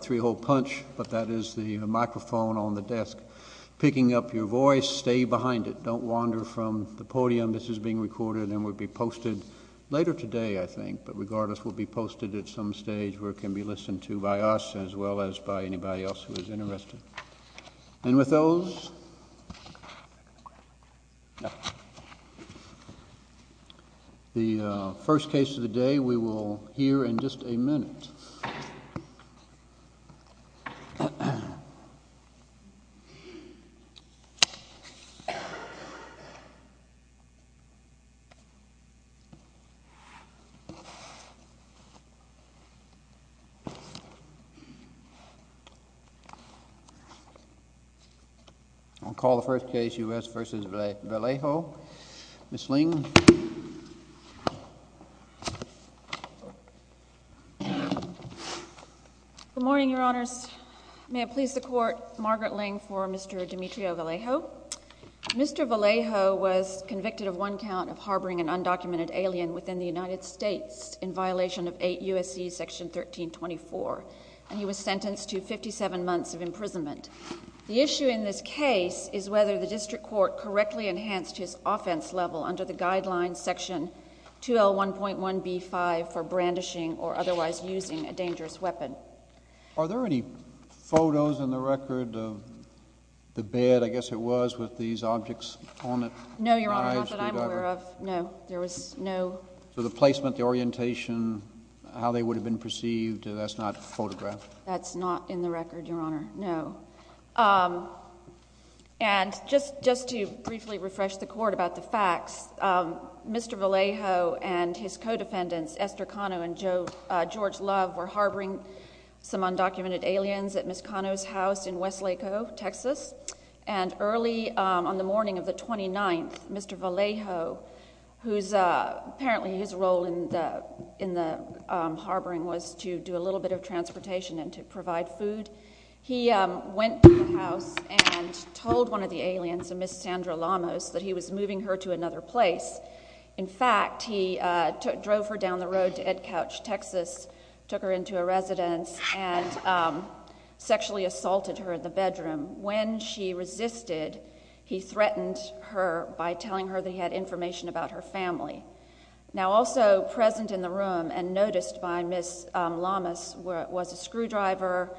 three-hole punch but that is the microphone on the desk picking up your voice stay behind it don't wander from the podium this is being recorded and would be posted later today I think but regardless will be posted at some stage where it can be listened to by us as well as by anybody else who is interested and with those the first case of the day we will hear in just a minute uh I'll call the first case U.S. v. Vallejo Ms. Ling good morning your honors may it please the court Margaret Ling for Mr. Demetrio Vallejo Mr. Vallejo was convicted of one count of harboring an undocumented alien within the United States in violation of 8 U.S.C. section 1324 and he was sentenced to 57 months of imprisonment the issue in this case is whether the district court correctly enhanced his offense level under the guidelines section 2L1.1b5 for brandishing or otherwise using a dangerous weapon are there any photos in the record of the bed I guess it was with these objects on it no your honor not that I'm aware of no there was no so the placement the orientation how they would have been perceived that's not photographed that's not in the record your honor no um and just just to briefly refresh the court about the facts um Mr. Vallejo and his co-defendants Esther Cano and Joe uh George Love were harboring some undocumented aliens at Ms. Cano's house in Westlake O Texas and early on the morning of the 29th Mr. Vallejo who's uh apparently his role in the in the um harboring was to do a little bit of transportation and to went to the house and told one of the aliens and Ms. Sandra Llamas that he was moving her to another place in fact he uh drove her down the road to Ed Couch Texas took her into a residence and sexually assaulted her in the bedroom when she resisted he threatened her by telling her they had information about her family now also present in the room and noticed by Ms. Llamas where it was a screwdriver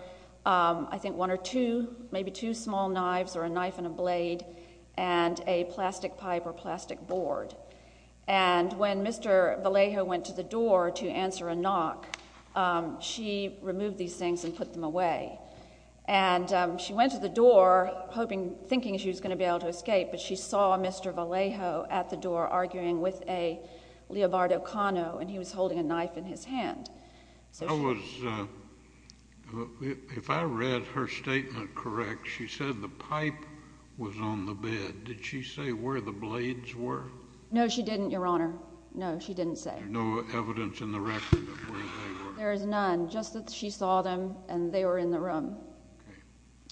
um I think one or two maybe two small knives or a knife and a blade and a plastic pipe or plastic board and when Mr. Vallejo went to the door to answer a knock she removed these things and put them away and she went to the door hoping thinking she was going to be able to escape but she saw Mr. Vallejo at the door arguing with a and he was holding a knife in his hand so I was uh if I read her statement correct she said the pipe was on the bed did she say where the blades were no she didn't your honor no she didn't say no evidence in the record of where they were there is none just that she saw them and they were in the room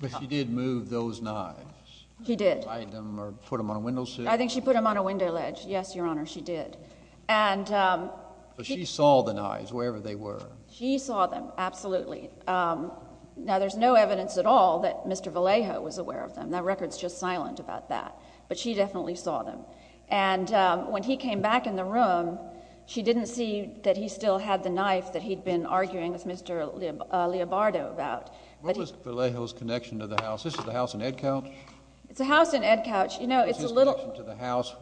but she did move those knives he did hide them or put them on a window sill think she put them on a window ledge yes your honor she did and um she saw the knives wherever they were she saw them absolutely um now there's no evidence at all that Mr. Vallejo was aware of them that record's just silent about that but she definitely saw them and when he came back in the room she didn't see that he still had the knife that he'd been arguing with Mr. uh Leobardo about what was Vallejo's connection to the house this is the house in Edcouch it's a house in Edcouch you know it's a little to the house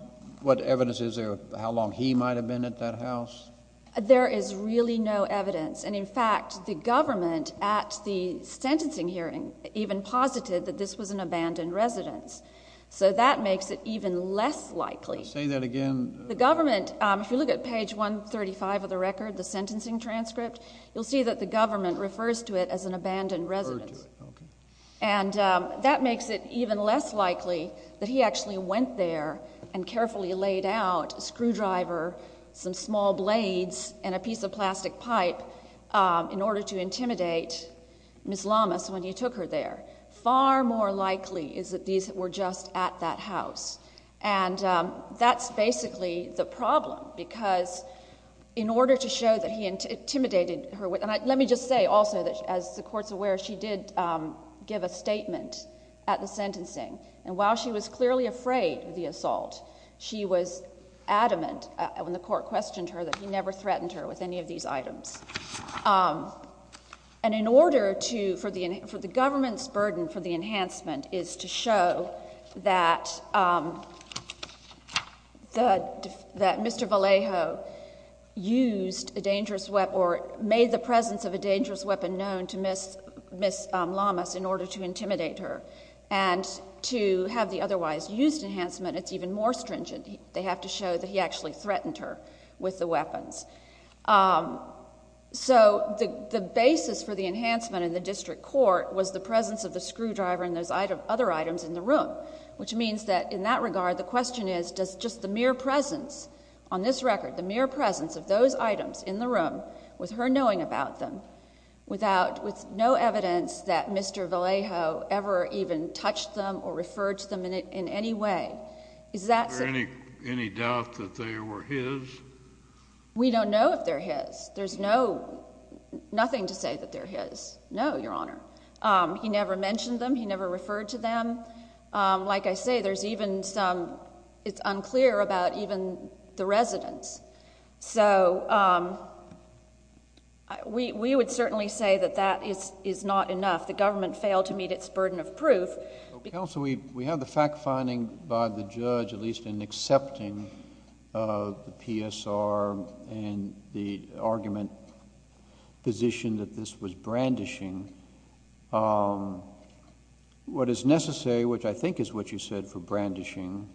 what evidence is there how long he might have been at that house there is really no evidence and in fact the government at the sentencing hearing even posited that this was an abandoned residence so that makes it even less likely say that again the government um if you look at page 135 of the record the sentencing transcript you'll see that the government refers to it as an abandoned residence and that makes it even less likely that he actually went there and carefully laid out a screwdriver some small blades and a piece of plastic pipe in order to intimidate Miss Lamas when he took her there far more likely is that these were just at that house and that's basically the problem because in order to show that he intimidated her with and let me just say also that as the court's aware she did give a statement at the sentencing and while she was clearly afraid of the assault she was adamant when the court questioned her that he never threatened her with any of these items and in order to for the for the government's burden for the enhancement is to show that um the that Mr. Vallejo used a dangerous weapon or made the presence of a dangerous weapon known to Miss Miss Lamas in order to intimidate her and to have the otherwise used enhancement it's even more stringent they have to show that he actually threatened her with the weapons um so the the basis for the enhancement in the district court was the presence of the screwdriver and those other items in the room which means that in that regard the question is does just the mere presence on this record the mere presence of those items in the room with her knowing about them without with no evidence that Mr. Vallejo ever even touched them or referred to them in any way is that any any doubt that they were his we don't know if they're his there's no nothing to say that they're his no your honor um he never mentioned them he never referred to them um like I say there's even some it's unclear about even the residents so um we we would certainly say that that is is not enough the government failed to meet its burden of proof counsel we we have the fact finding by the judge at least in accepting of the PSR and the argument position that this was brandishing um what is necessary which I think is what you said for brandishing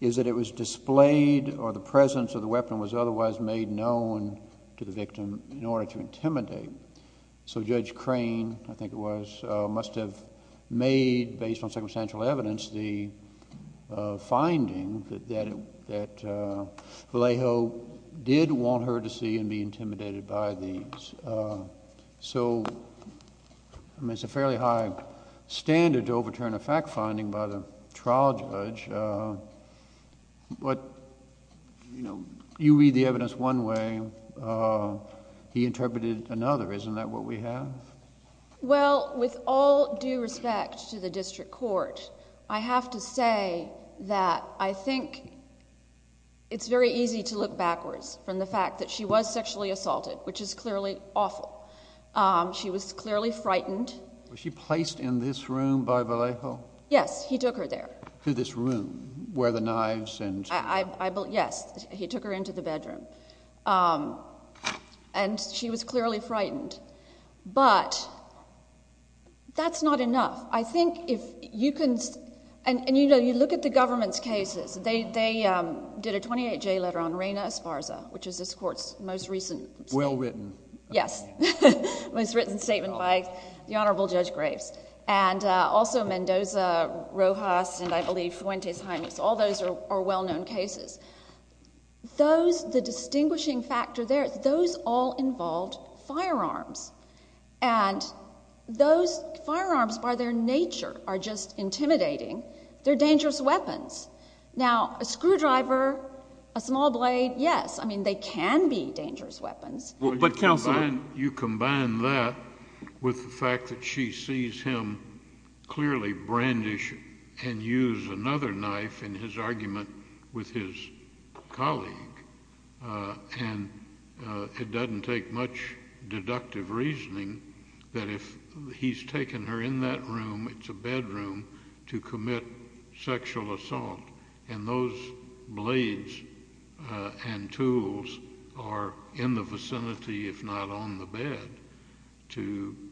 is that it was displayed or the presence of the weapon was otherwise made known to the victim in order to intimidate so judge crane I think it was uh must have made based on circumstantial evidence the uh finding that that that uh Vallejo did want her to see and be intimidated by these uh so I mean it's a fairly high standard to overturn a fact finding by the trial judge uh what you know you read the evidence one way uh he interpreted another isn't that what we have well with all due respect to the district court I have to say that I think it's very easy to look backwards from the fact that she was sexually assaulted which is clearly awful um she was clearly frightened was she placed in this room by Vallejo yes he took her there to this room where the knives and I I believe yes he took her into the bedroom um and she was clearly frightened but that's not enough I think if you can and you know you look at the government's cases they they um did a 28j letter on Reyna Esparza which is this court's well-written yes most written statement by the honorable judge graves and uh also Mendoza Rojas and I believe Fuentes-Jaimes all those are well-known cases those the distinguishing factor there those all involved firearms and those firearms by their nature are just intimidating they're dangerous weapons now a screwdriver a small blade yes I mean they can be dangerous weapons but counsel you combine that with the fact that she sees him clearly brandish and use another knife in his argument with his colleague uh and uh it doesn't take much to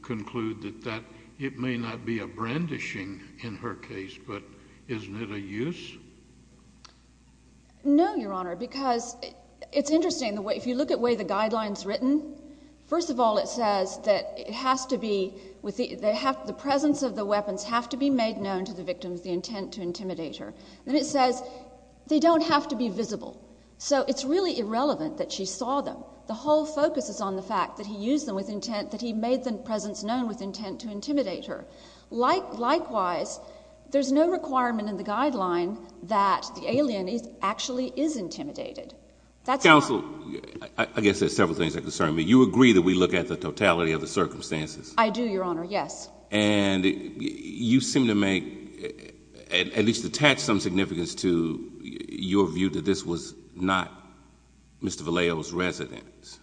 conclude that that it may not be a brandishing in her case but isn't it a use no your honor because it's interesting the way if you look at way the guidelines written first of all it says that it has to be with the they have the presence of the weapons have to be made known to the victims the intent to intimidate her then it says they don't have to be visible so it's really irrelevant that she saw them the whole focus is on the fact that he used them with intent that he made the presence known with intent to intimidate her like likewise there's no requirement in the guideline that the alien is actually is intimidated that's counsel I guess there's several things that concern me you agree that we look at the totality of the circumstances I do your honor yes and you seem to make at least attach some significance to your view that this was not Mr. Vallejo's residence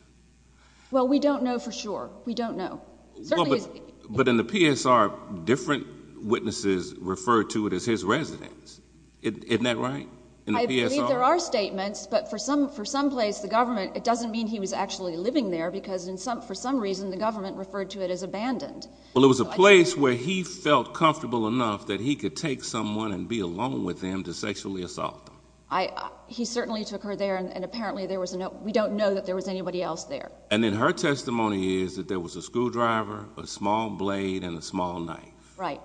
well we don't know for sure we don't know certainly but in the PSR different witnesses referred to it as his residence isn't that right in the PSR there are statements but for some for some place the government it doesn't mean he was actually living there because in some for some reason the government referred to it as abandoned well it was a place where he felt comfortable enough that he could take someone and be alone with him to sexually assault them I he certainly took her there and apparently there was no we don't know that there was anybody else there and then her testimony is that there was a screwdriver a small blade and a small knife right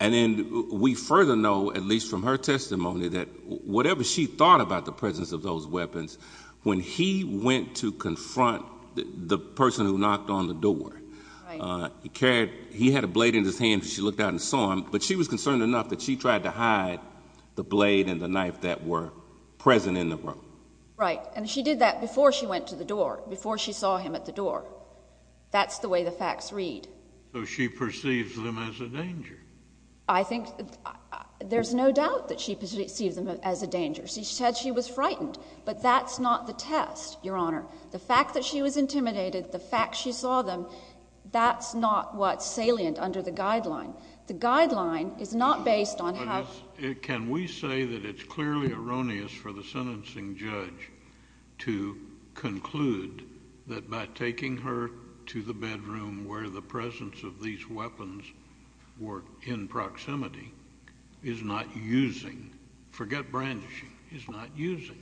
and then we further know at least from her testimony that whatever she thought about the presence of those weapons when he went to confront the person who knocked on the door uh he carried he had a blade in his hand she looked out and saw him but she was concerned enough that she tried to hide the blade and the knife that were present in the room right and she did that before she went to the door before she saw him at the door that's the way the facts read so she perceives them as a danger I think there's no doubt that she perceived them as a danger she said she was frightened but that's not the test your honor the fact that she was intimidated the fact she saw them that's not what's salient under the guideline the guideline is not based on how can we say that it's clearly erroneous for the sentencing judge to conclude that by taking her to the bedroom where the presence of these weapons were in proximity is not using forget brandishing is not using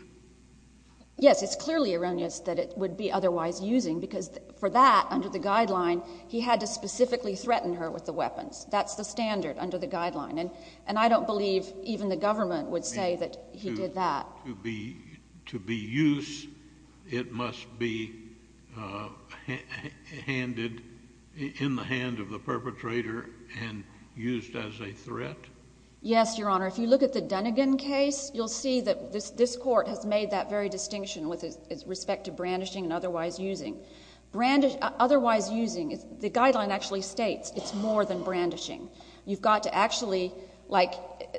yes it's clearly erroneous that it would be otherwise using because for that under the guideline he had to specifically threaten her with the weapons that's the standard under the guideline and and I don't believe even the government would say that he did that to be to be used it must be handed in the hand of the perpetrator and used as a threat yes your honor if you look at the Dunigan case you'll see that this this court has made that very distinction with its respect to brandishing and otherwise using brand otherwise using the guideline actually states it's more than brandishing you've got to actually like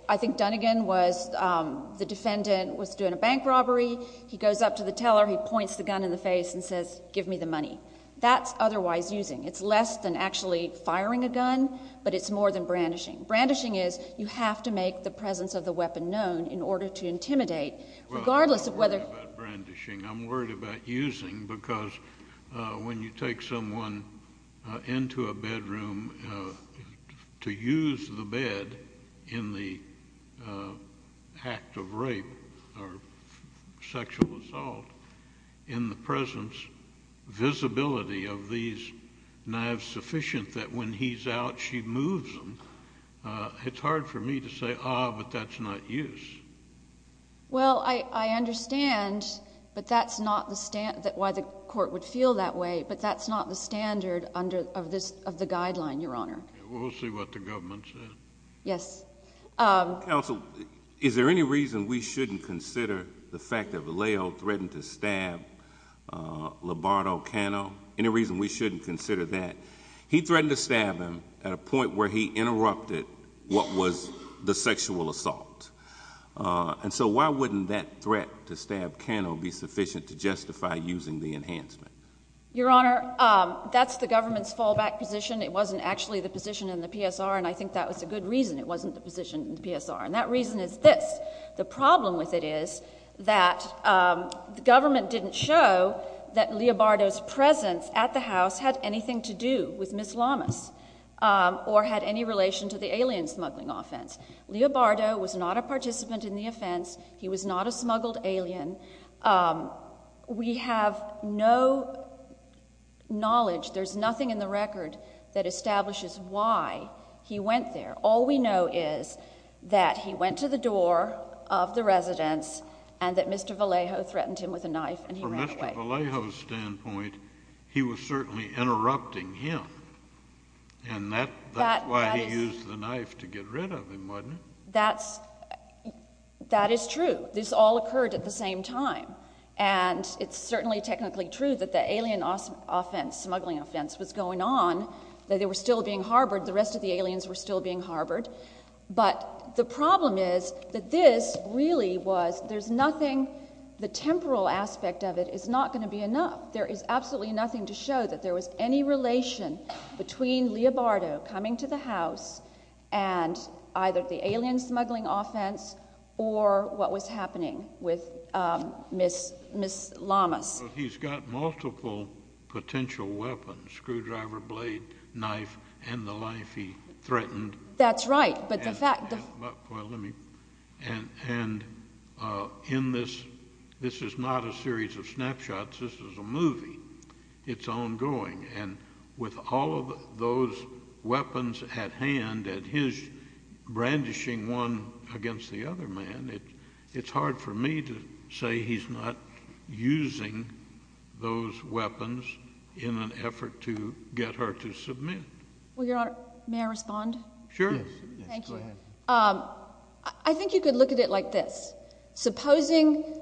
I think Dunigan was the defendant was doing a bank robbery he goes up to the teller he points the gun in the face and says give me the money that's otherwise using it's less than actually firing a gun but it's more than brandishing brandishing is you have to make the presence of the weapon known in order to intimidate regardless of whether brandishing I'm worried about using because when you take someone into a bedroom to use the bed in the act of rape or sexual assault in the presence visibility of these knives sufficient that when he's out she moves them it's hard for me to say ah but that's not use well I understand but that's not the stand that why the court would feel that way but that's not the standard under of this of the guideline your honor we'll see what the government said yes um counsel is there any reason we shouldn't consider the fact that Valeo threatened to stab uh Lombardo Cano any reason we shouldn't consider that he threatened to stab him at a point where he interrupted what was the sexual assault and so why wouldn't that threat to stab Cano be sufficient to justify using the enhancement your honor um that's the government's fallback position it wasn't actually the position in the PSR and I think that was a good reason it wasn't the position in the PSR and that reason is this the problem with it is that um the government didn't show that Leobardo's presence at the house had anything to do with Miss Lamas um or had any relation to the alien smuggling offense Leobardo was not a participant in the offense he was not a smuggled alien um we have no knowledge there's nothing in the record that establishes why he went there all we know is that he went to the door of the residence and that Mr. Vallejo threatened him with a knife and he ran away from Mr. Vallejo's standpoint he was certainly interrupting him and that that's why he used the knife to get rid of him wasn't it that's that is true this all occurred at the same time and it's certainly technically true that the alien offense smuggling offense was going on that they were still being harbored the rest of the aliens were still being harbored but the problem is that this really was there's nothing the temporal aspect of it is not going to be enough there is absolutely nothing to show that there was any relation between Leobardo coming to the house and either the alien smuggling offense or what was happening with um Miss Miss Lamas he's got multiple potential weapons screwdriver blade knife and the life he threatened that's right but the fact well let me and and uh in this this is not a series of this is a movie it's ongoing and with all of those weapons at hand at his brandishing one against the other man it it's hard for me to say he's not using those weapons in an effort to get her to submit well your honor may i respond sure thank you um i think you could look at it like this supposing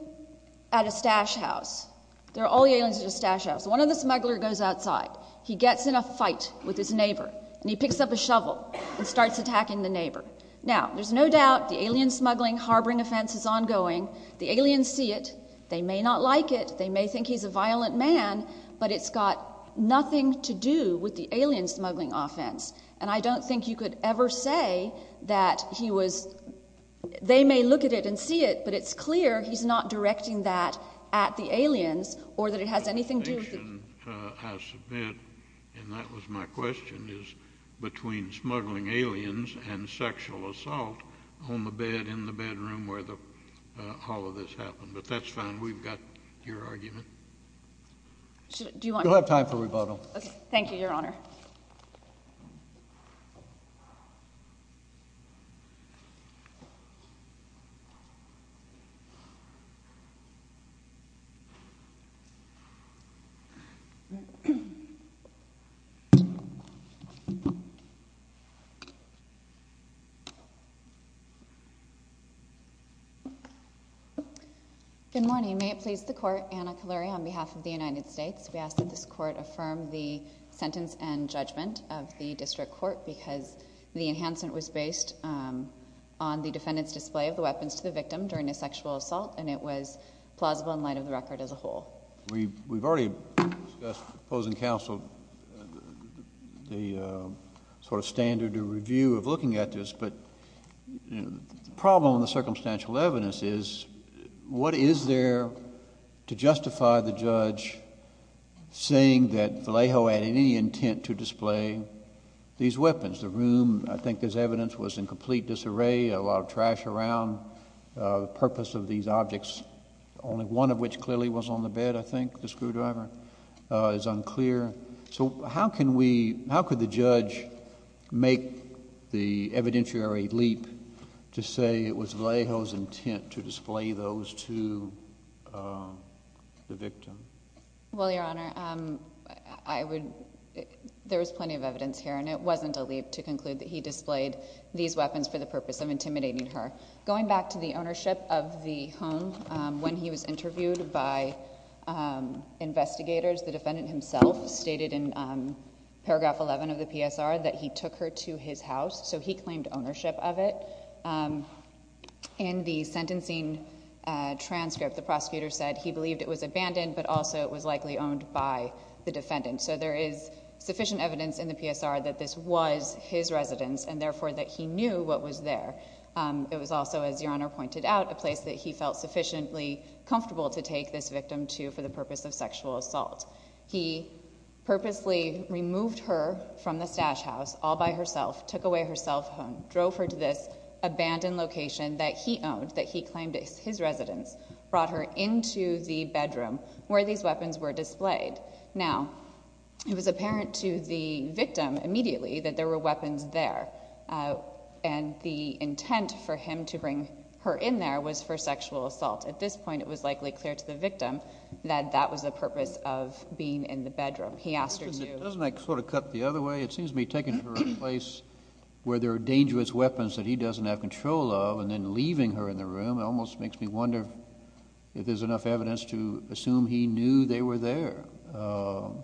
at a stash house there are all the aliens in the stash house one of the smuggler goes outside he gets in a fight with his neighbor and he picks up a shovel and starts attacking the neighbor now there's no doubt the alien smuggling harboring offense is ongoing the aliens see it they may not like it they may think he's a violent man but it's got nothing to do with the alien smuggling offense and i don't think you could ever say that he was they may look at it and see it but it's clear he's not directing that at the aliens or that it has anything to do with it uh i submit and that was my question is between smuggling aliens and sexual assault on the bed in the bedroom where the uh all of this happened but that's fine we've got your argument do you want you'll have time for rebuttal okay thank you your honor so good morning may it please the court anna calorie on behalf of the united states we ask that this court affirm the sentence and judgment of the district court because the enhancement was based on the defendant's display of the weapons to the victim during a sexual assault and it was plausible in light of the record as a whole we we've already discussed opposing counsel the sort of standard review of looking at this but the problem with the circumstantial evidence is what is there to justify the judge saying that vallejo had any intent to display these weapons the room i think this evidence was in complete disarray a lot of trash around uh the purpose of these objects only one of which clearly was on the bed i think the screwdriver is unclear so how can we how could the judge make the evidentiary leap to say it was vallejo's intent to display those to the victim well your honor um i would there was plenty of evidence here and it wasn't a leap to conclude that he displayed these weapons for the purpose of intimidating her going back to the ownership of the home when he was interviewed by investigators the defendant himself stated in paragraph 11 of the psr that he took her to his house so he claimed ownership of it in the sentencing transcript the prosecutor said he believed it was abandoned but also it was likely owned by the defendant so there is sufficient evidence in the psr that this was his residence and therefore that he knew what was there um it was also as your honor pointed out a place that he felt sufficiently comfortable to take this victim to for the purpose of sexual assault he purposely removed her from the stash house all by herself took away her cell phone drove her to this abandoned location that he owned that he claimed is his residence brought her into the bedroom where these weapons were displayed now it was apparent to the victim immediately that there were weapons there and the intent for him to bring her in there was for sexual assault at this point it was likely clear to the victim that that was the purpose of being in the bedroom he asked her to doesn't that sort of cut the other way it seems to be taken to a place where there are dangerous weapons that he doesn't have control of and then leaving her in the room it almost makes me wonder if there's enough evidence to assume he knew they were there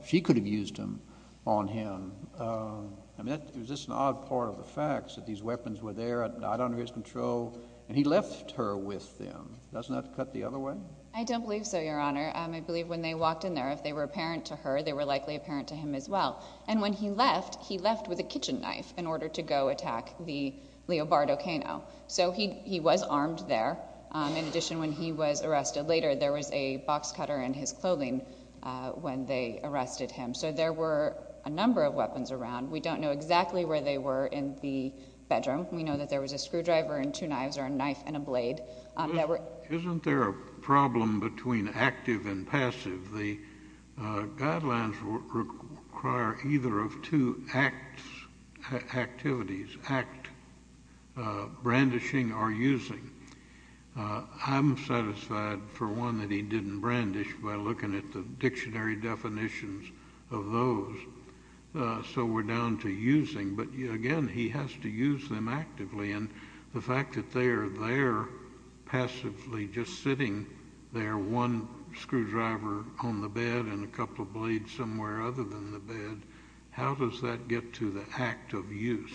she could have used them on him i mean it was just an odd part of the facts that these weapons were there not under his control and he left her with them doesn't that cut the other way i don't believe so your honor i believe when they walked in there if they were apparent to her they were likely apparent to him as well and when he left he left with a kitchen knife in order to go attack the leobardo cano so he he was armed there in addition when he was arrested later there was a box cutter in his clothing when they arrested him so there were a number of weapons around we don't know exactly where they were in the bedroom we know that there was a screwdriver and two knives or a knife and a blade that were isn't there a problem between active and passive the guidelines require either of two acts activities act uh brandishing or using i'm satisfied for one that he didn't brandish by looking at the dictionary definitions of those so we're down to using but again he has to use them actively and the fact that they are there passively just sitting there one screwdriver on the bed and a couple of blades somewhere other than the bed how does that get to the act of use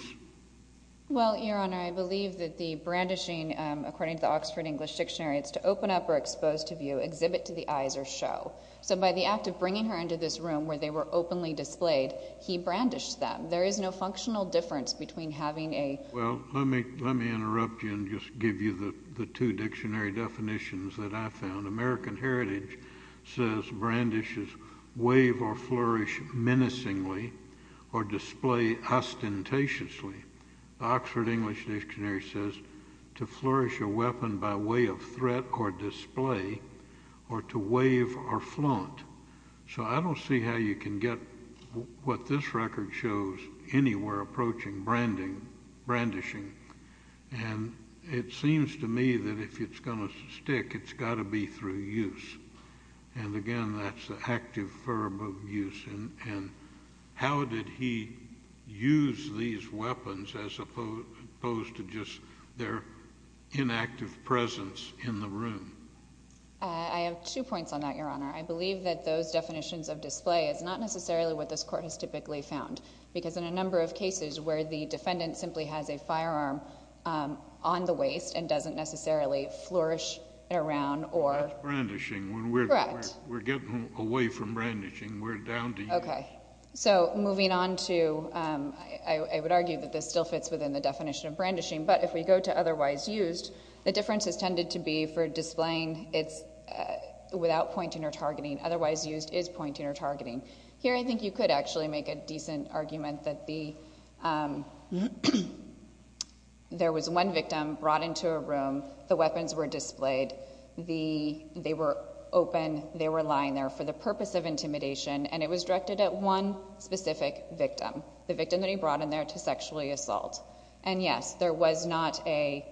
well your honor i believe that the brandishing according to the oxford english dictionary it's to open up or expose to view exhibit to the eyes or show so by the act of bringing her into this room where they were openly displayed he brandished them there is no functional difference between having a well let me let me interrupt you and just give you the the two dictionary definitions that i found american heritage says brandishes wave or flourish menacingly or display ostentatiously oxford english dictionary says to flourish a weapon by way of threat or display or to wave or flaunt so i don't see how you can get what this record shows anywhere approaching branding brandishing and it seems to me that if it's going to stick it's got to be through use and again that's the active verb of use and how did he use these weapons as opposed to just their inactive presence in the room i have two points on that your honor i believe that those definitions of display is not necessarily what this court has typically found because in a number of cases where the defendant simply has a firearm on the waist and doesn't necessarily flourish around or brandishing when we're correct we're getting away from brandishing we're down to you okay so moving on to um i would argue that this still fits within the definition of brandishing but if we go to otherwise used the difference has tended to be for displaying it's without pointing or targeting otherwise used is pointing or targeting here i think you could actually make a decent argument that the um there was one victim brought into a room the weapons were displayed the they were open they were lying there for the purpose of intimidation and it was directed at one specific victim the victim that he brought in there to sexually assault and yes there was not a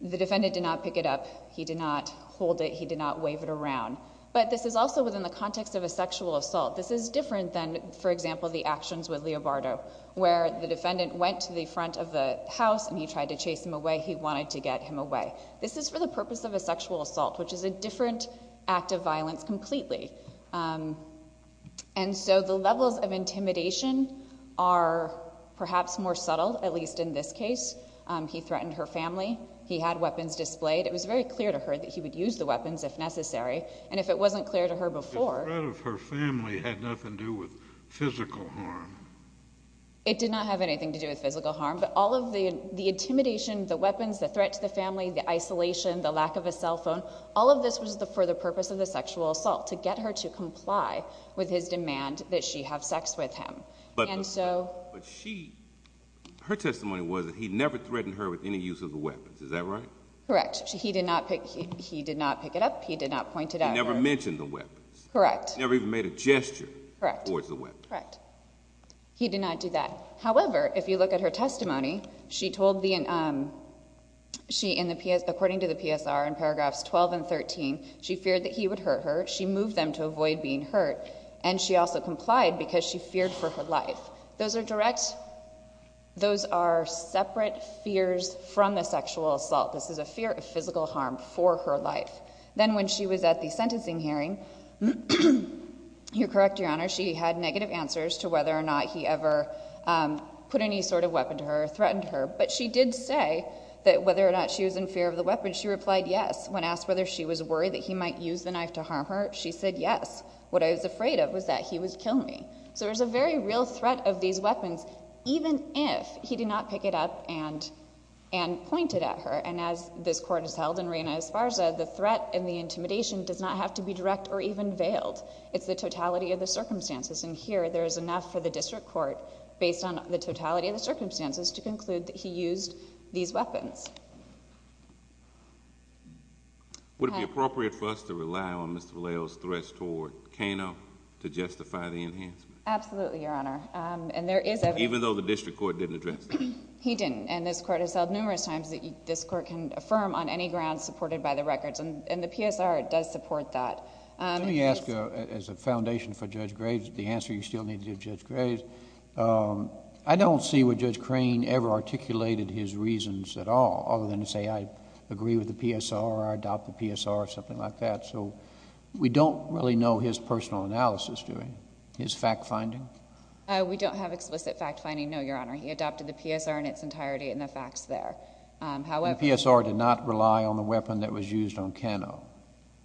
the defendant did not pick it up he did not hold it he did not wave it around but this is also within the context of a sexual assault this is different than for example the actions with leo bardo where the defendant went to the front of the house and he tried to chase him away he wanted to get him away this is for the purpose of a sexual assault which is a different act of violence completely um and so the levels of intimidation are perhaps more subtle at least in this case he threatened her family he had weapons displayed it was very clear to her that he would use the family had nothing to do with physical harm it did not have anything to do with physical harm but all of the the intimidation the weapons the threat to the family the isolation the lack of a cell phone all of this was the for the purpose of the sexual assault to get her to comply with his demand that she have sex with him and so but she her testimony was that he never threatened her with any use of the weapons is that right correct he did not pick he did not pick it up he did not point it out never mentioned the weapons correct never even made a gesture correct towards the weapon correct he did not do that however if you look at her testimony she told the um she in the ps according to the psr in paragraphs 12 and 13 she feared that he would hurt her she moved them to avoid being hurt and she also complied because she feared for her life those are direct those are separate fears from the sexual assault this is a fear of physical harm for her life then when she was at the sentencing hearing you correct your honor she had negative answers to whether or not he ever put any sort of weapon to her threatened her but she did say that whether or not she was in fear of the weapon she replied yes when asked whether she was worried that he might use the knife to harm her she said yes what i was afraid of was that he would kill me so there's a very real threat of these weapons even if he did not pick it up and and point it at her and as this court has held in reina esparza the threat and the intimidation does not have to be direct or even veiled it's the totality of the circumstances and here there is enough for the district court based on the totality of the circumstances to conclude that he used these weapons would it be appropriate for us to rely on mr valeo's threats toward kano to justify the enhancement absolutely your honor um and there is even though the district court didn't address he didn't and this court has held numerous times that this court can affirm on any ground supported by the records and the psr does support that um let me ask you as a foundation for judge graves the answer you still need to judge graves um i don't see what judge crane ever articulated his reasons at all other than to say i agree with the psr i adopt the psr or something like that so we don't really know his personal analysis during his fact finding uh we don't have explicit fact finding no your honor he adopted the psr in its entirety in the facts there um however psr did not rely on the weapon that was used on kano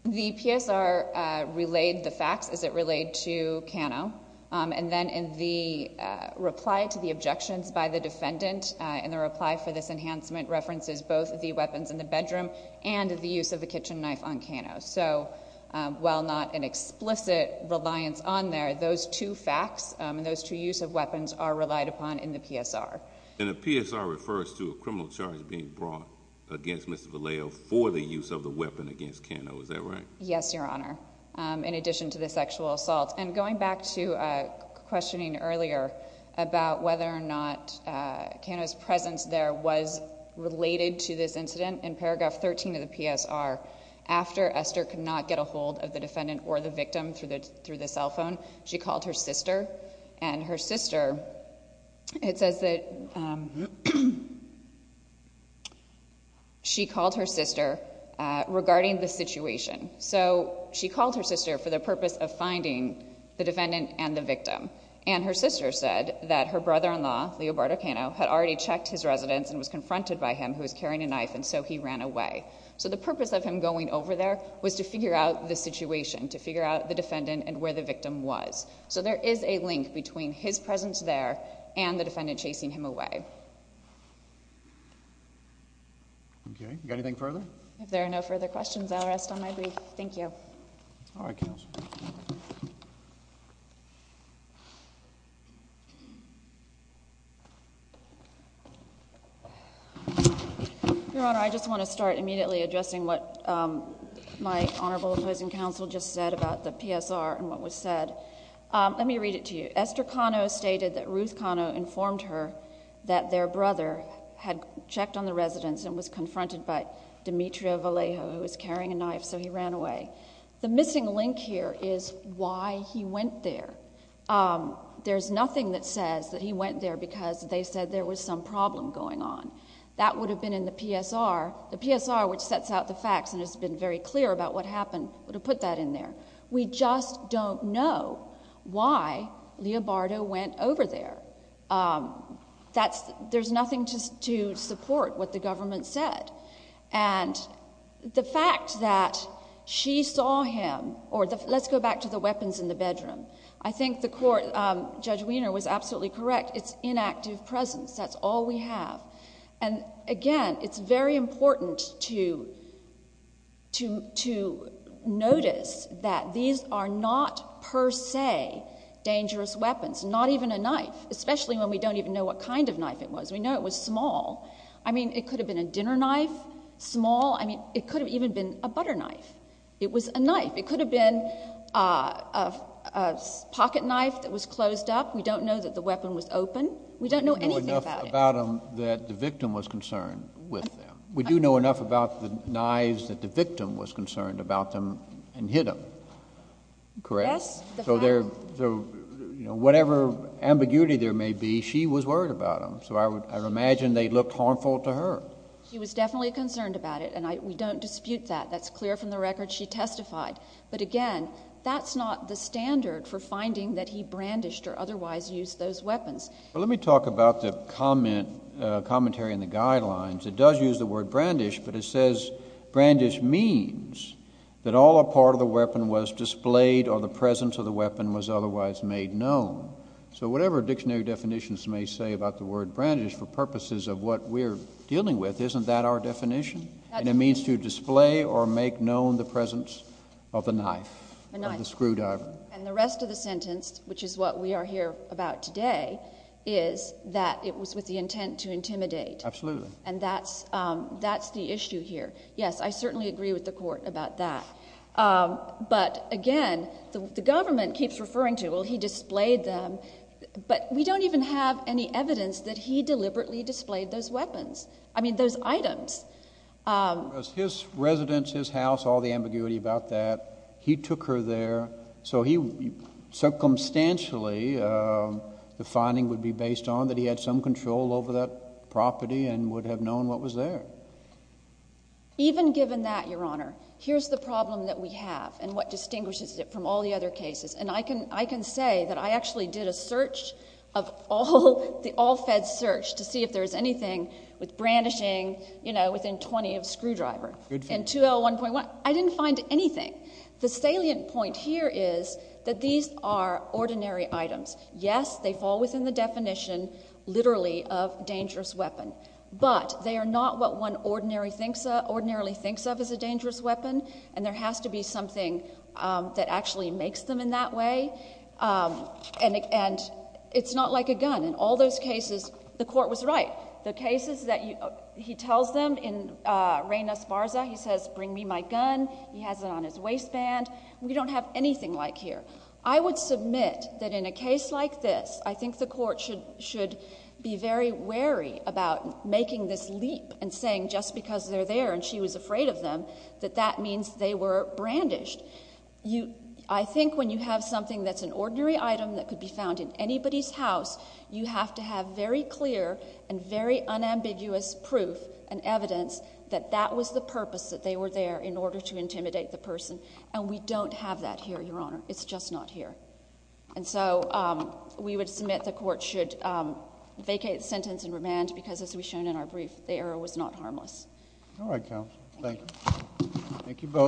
the psr uh relayed the facts as it relayed to kano um and then in the uh reply to the objections by the defendant and the reply for this enhancement references both the weapons in the bedroom and the use of the kitchen knife on kano so um while not an explicit reliance on there those two facts and those two use of weapons are relied upon in the psr and the psr refers to a criminal charge being brought against mr vallejo for the use of the weapon against kano is that right yes your honor um in addition to the sexual assault and going back to uh questioning earlier about whether or not uh kano's presence there was related to this incident in paragraph 13 of the psr after esther could not get a hold of the defendant or the victim through the through the cell phone she called her sister and her sister it says that um she called her sister uh regarding the situation so she called her sister for the purpose of finding the defendant and the victim and her sister said that her brother-in-law leo bardo kano had already checked his residence and was confronted by him who was carrying a knife and so he ran away so the purpose of him going over there was to figure out the situation to figure out the so there is a link between his presence there and the defendant chasing him away okay you got anything further if there are no further questions i'll rest on my brief thank you all right counsel your honor i just want to start immediately addressing what um my honorable opposing counsel just said about the psr and what was said um let me read it to you esther kano stated that ruth kano informed her that their brother had checked on the residence and was confronted by demetria valejo who was carrying a knife so he ran away the missing link here is why he went there there's nothing that says that he went there because they said there was some problem going on that would have been in the psr the psr which sets out the facts and has been very clear about what happened would have put that in there we just don't know why leo bardo went over there um that's there's nothing to to support what the government said and the fact that she saw him or the let's go back to the weapons in the bedroom i think the court um judge wiener was absolutely correct it's inactive presence that's all we have and again it's very important to to to notice that these are not per se dangerous weapons not even a knife especially when we don't even know what kind of knife it was we know it was small i mean it could have been a dinner knife small i mean it could have even been a butter knife it was a knife it could have been uh a pocket knife that was we don't know anything about him that the victim was concerned with them we do know enough about the knives that the victim was concerned about them and hit him correct so they're so you know whatever ambiguity there may be she was worried about him so i would imagine they looked harmful to her she was definitely concerned about it and i we don't dispute that that's clear from the record she testified but again that's not the standard for finding that he brandished or let me talk about the comment uh commentary in the guidelines it does use the word brandish but it says brandish means that all a part of the weapon was displayed or the presence of the weapon was otherwise made known so whatever dictionary definitions may say about the word brandish for purposes of what we're dealing with isn't that our definition and it means to display or make known the presence of the knife the screwdriver and the rest of the sentence which is what we are here about today is that it was with the intent to intimidate absolutely and that's um that's the issue here yes i certainly agree with the court about that um but again the government keeps referring to well he displayed them but we don't even have any evidence that he deliberately displayed those weapons i mean those items um was his residence his house all about that he took her there so he circumstantially uh the finding would be based on that he had some control over that property and would have known what was there even given that your honor here's the problem that we have and what distinguishes it from all the other cases and i can i can say that i actually did a search of all the all feds search to see if there's anything with brandishing you know within 20 of screwdriver in 201.1 i didn't find anything the salient point here is that these are ordinary items yes they fall within the definition literally of dangerous weapon but they are not what one ordinary thinks ordinarily thinks of as a dangerous weapon and there has to be something um that actually makes them in that way um and and it's not like a gun in all those cases the court was right the cases that he tells them in uh reina sparza he says bring me my gun he has it on his waistband we don't have anything like here i would submit that in a case like this i think the court should should be very wary about making this leap and saying just because they're there and she was afraid of them that that means they were brandished you i think when you have something that's an ordinary item that could be found in anybody's house you have to very clear and very unambiguous proof and evidence that that was the purpose that they were there in order to intimidate the person and we don't have that here your honor it's just not here and so um we would submit the court should um vacate the sentence in remand because as we shown in our brief the error was not harmless all right counsel thank you thank you both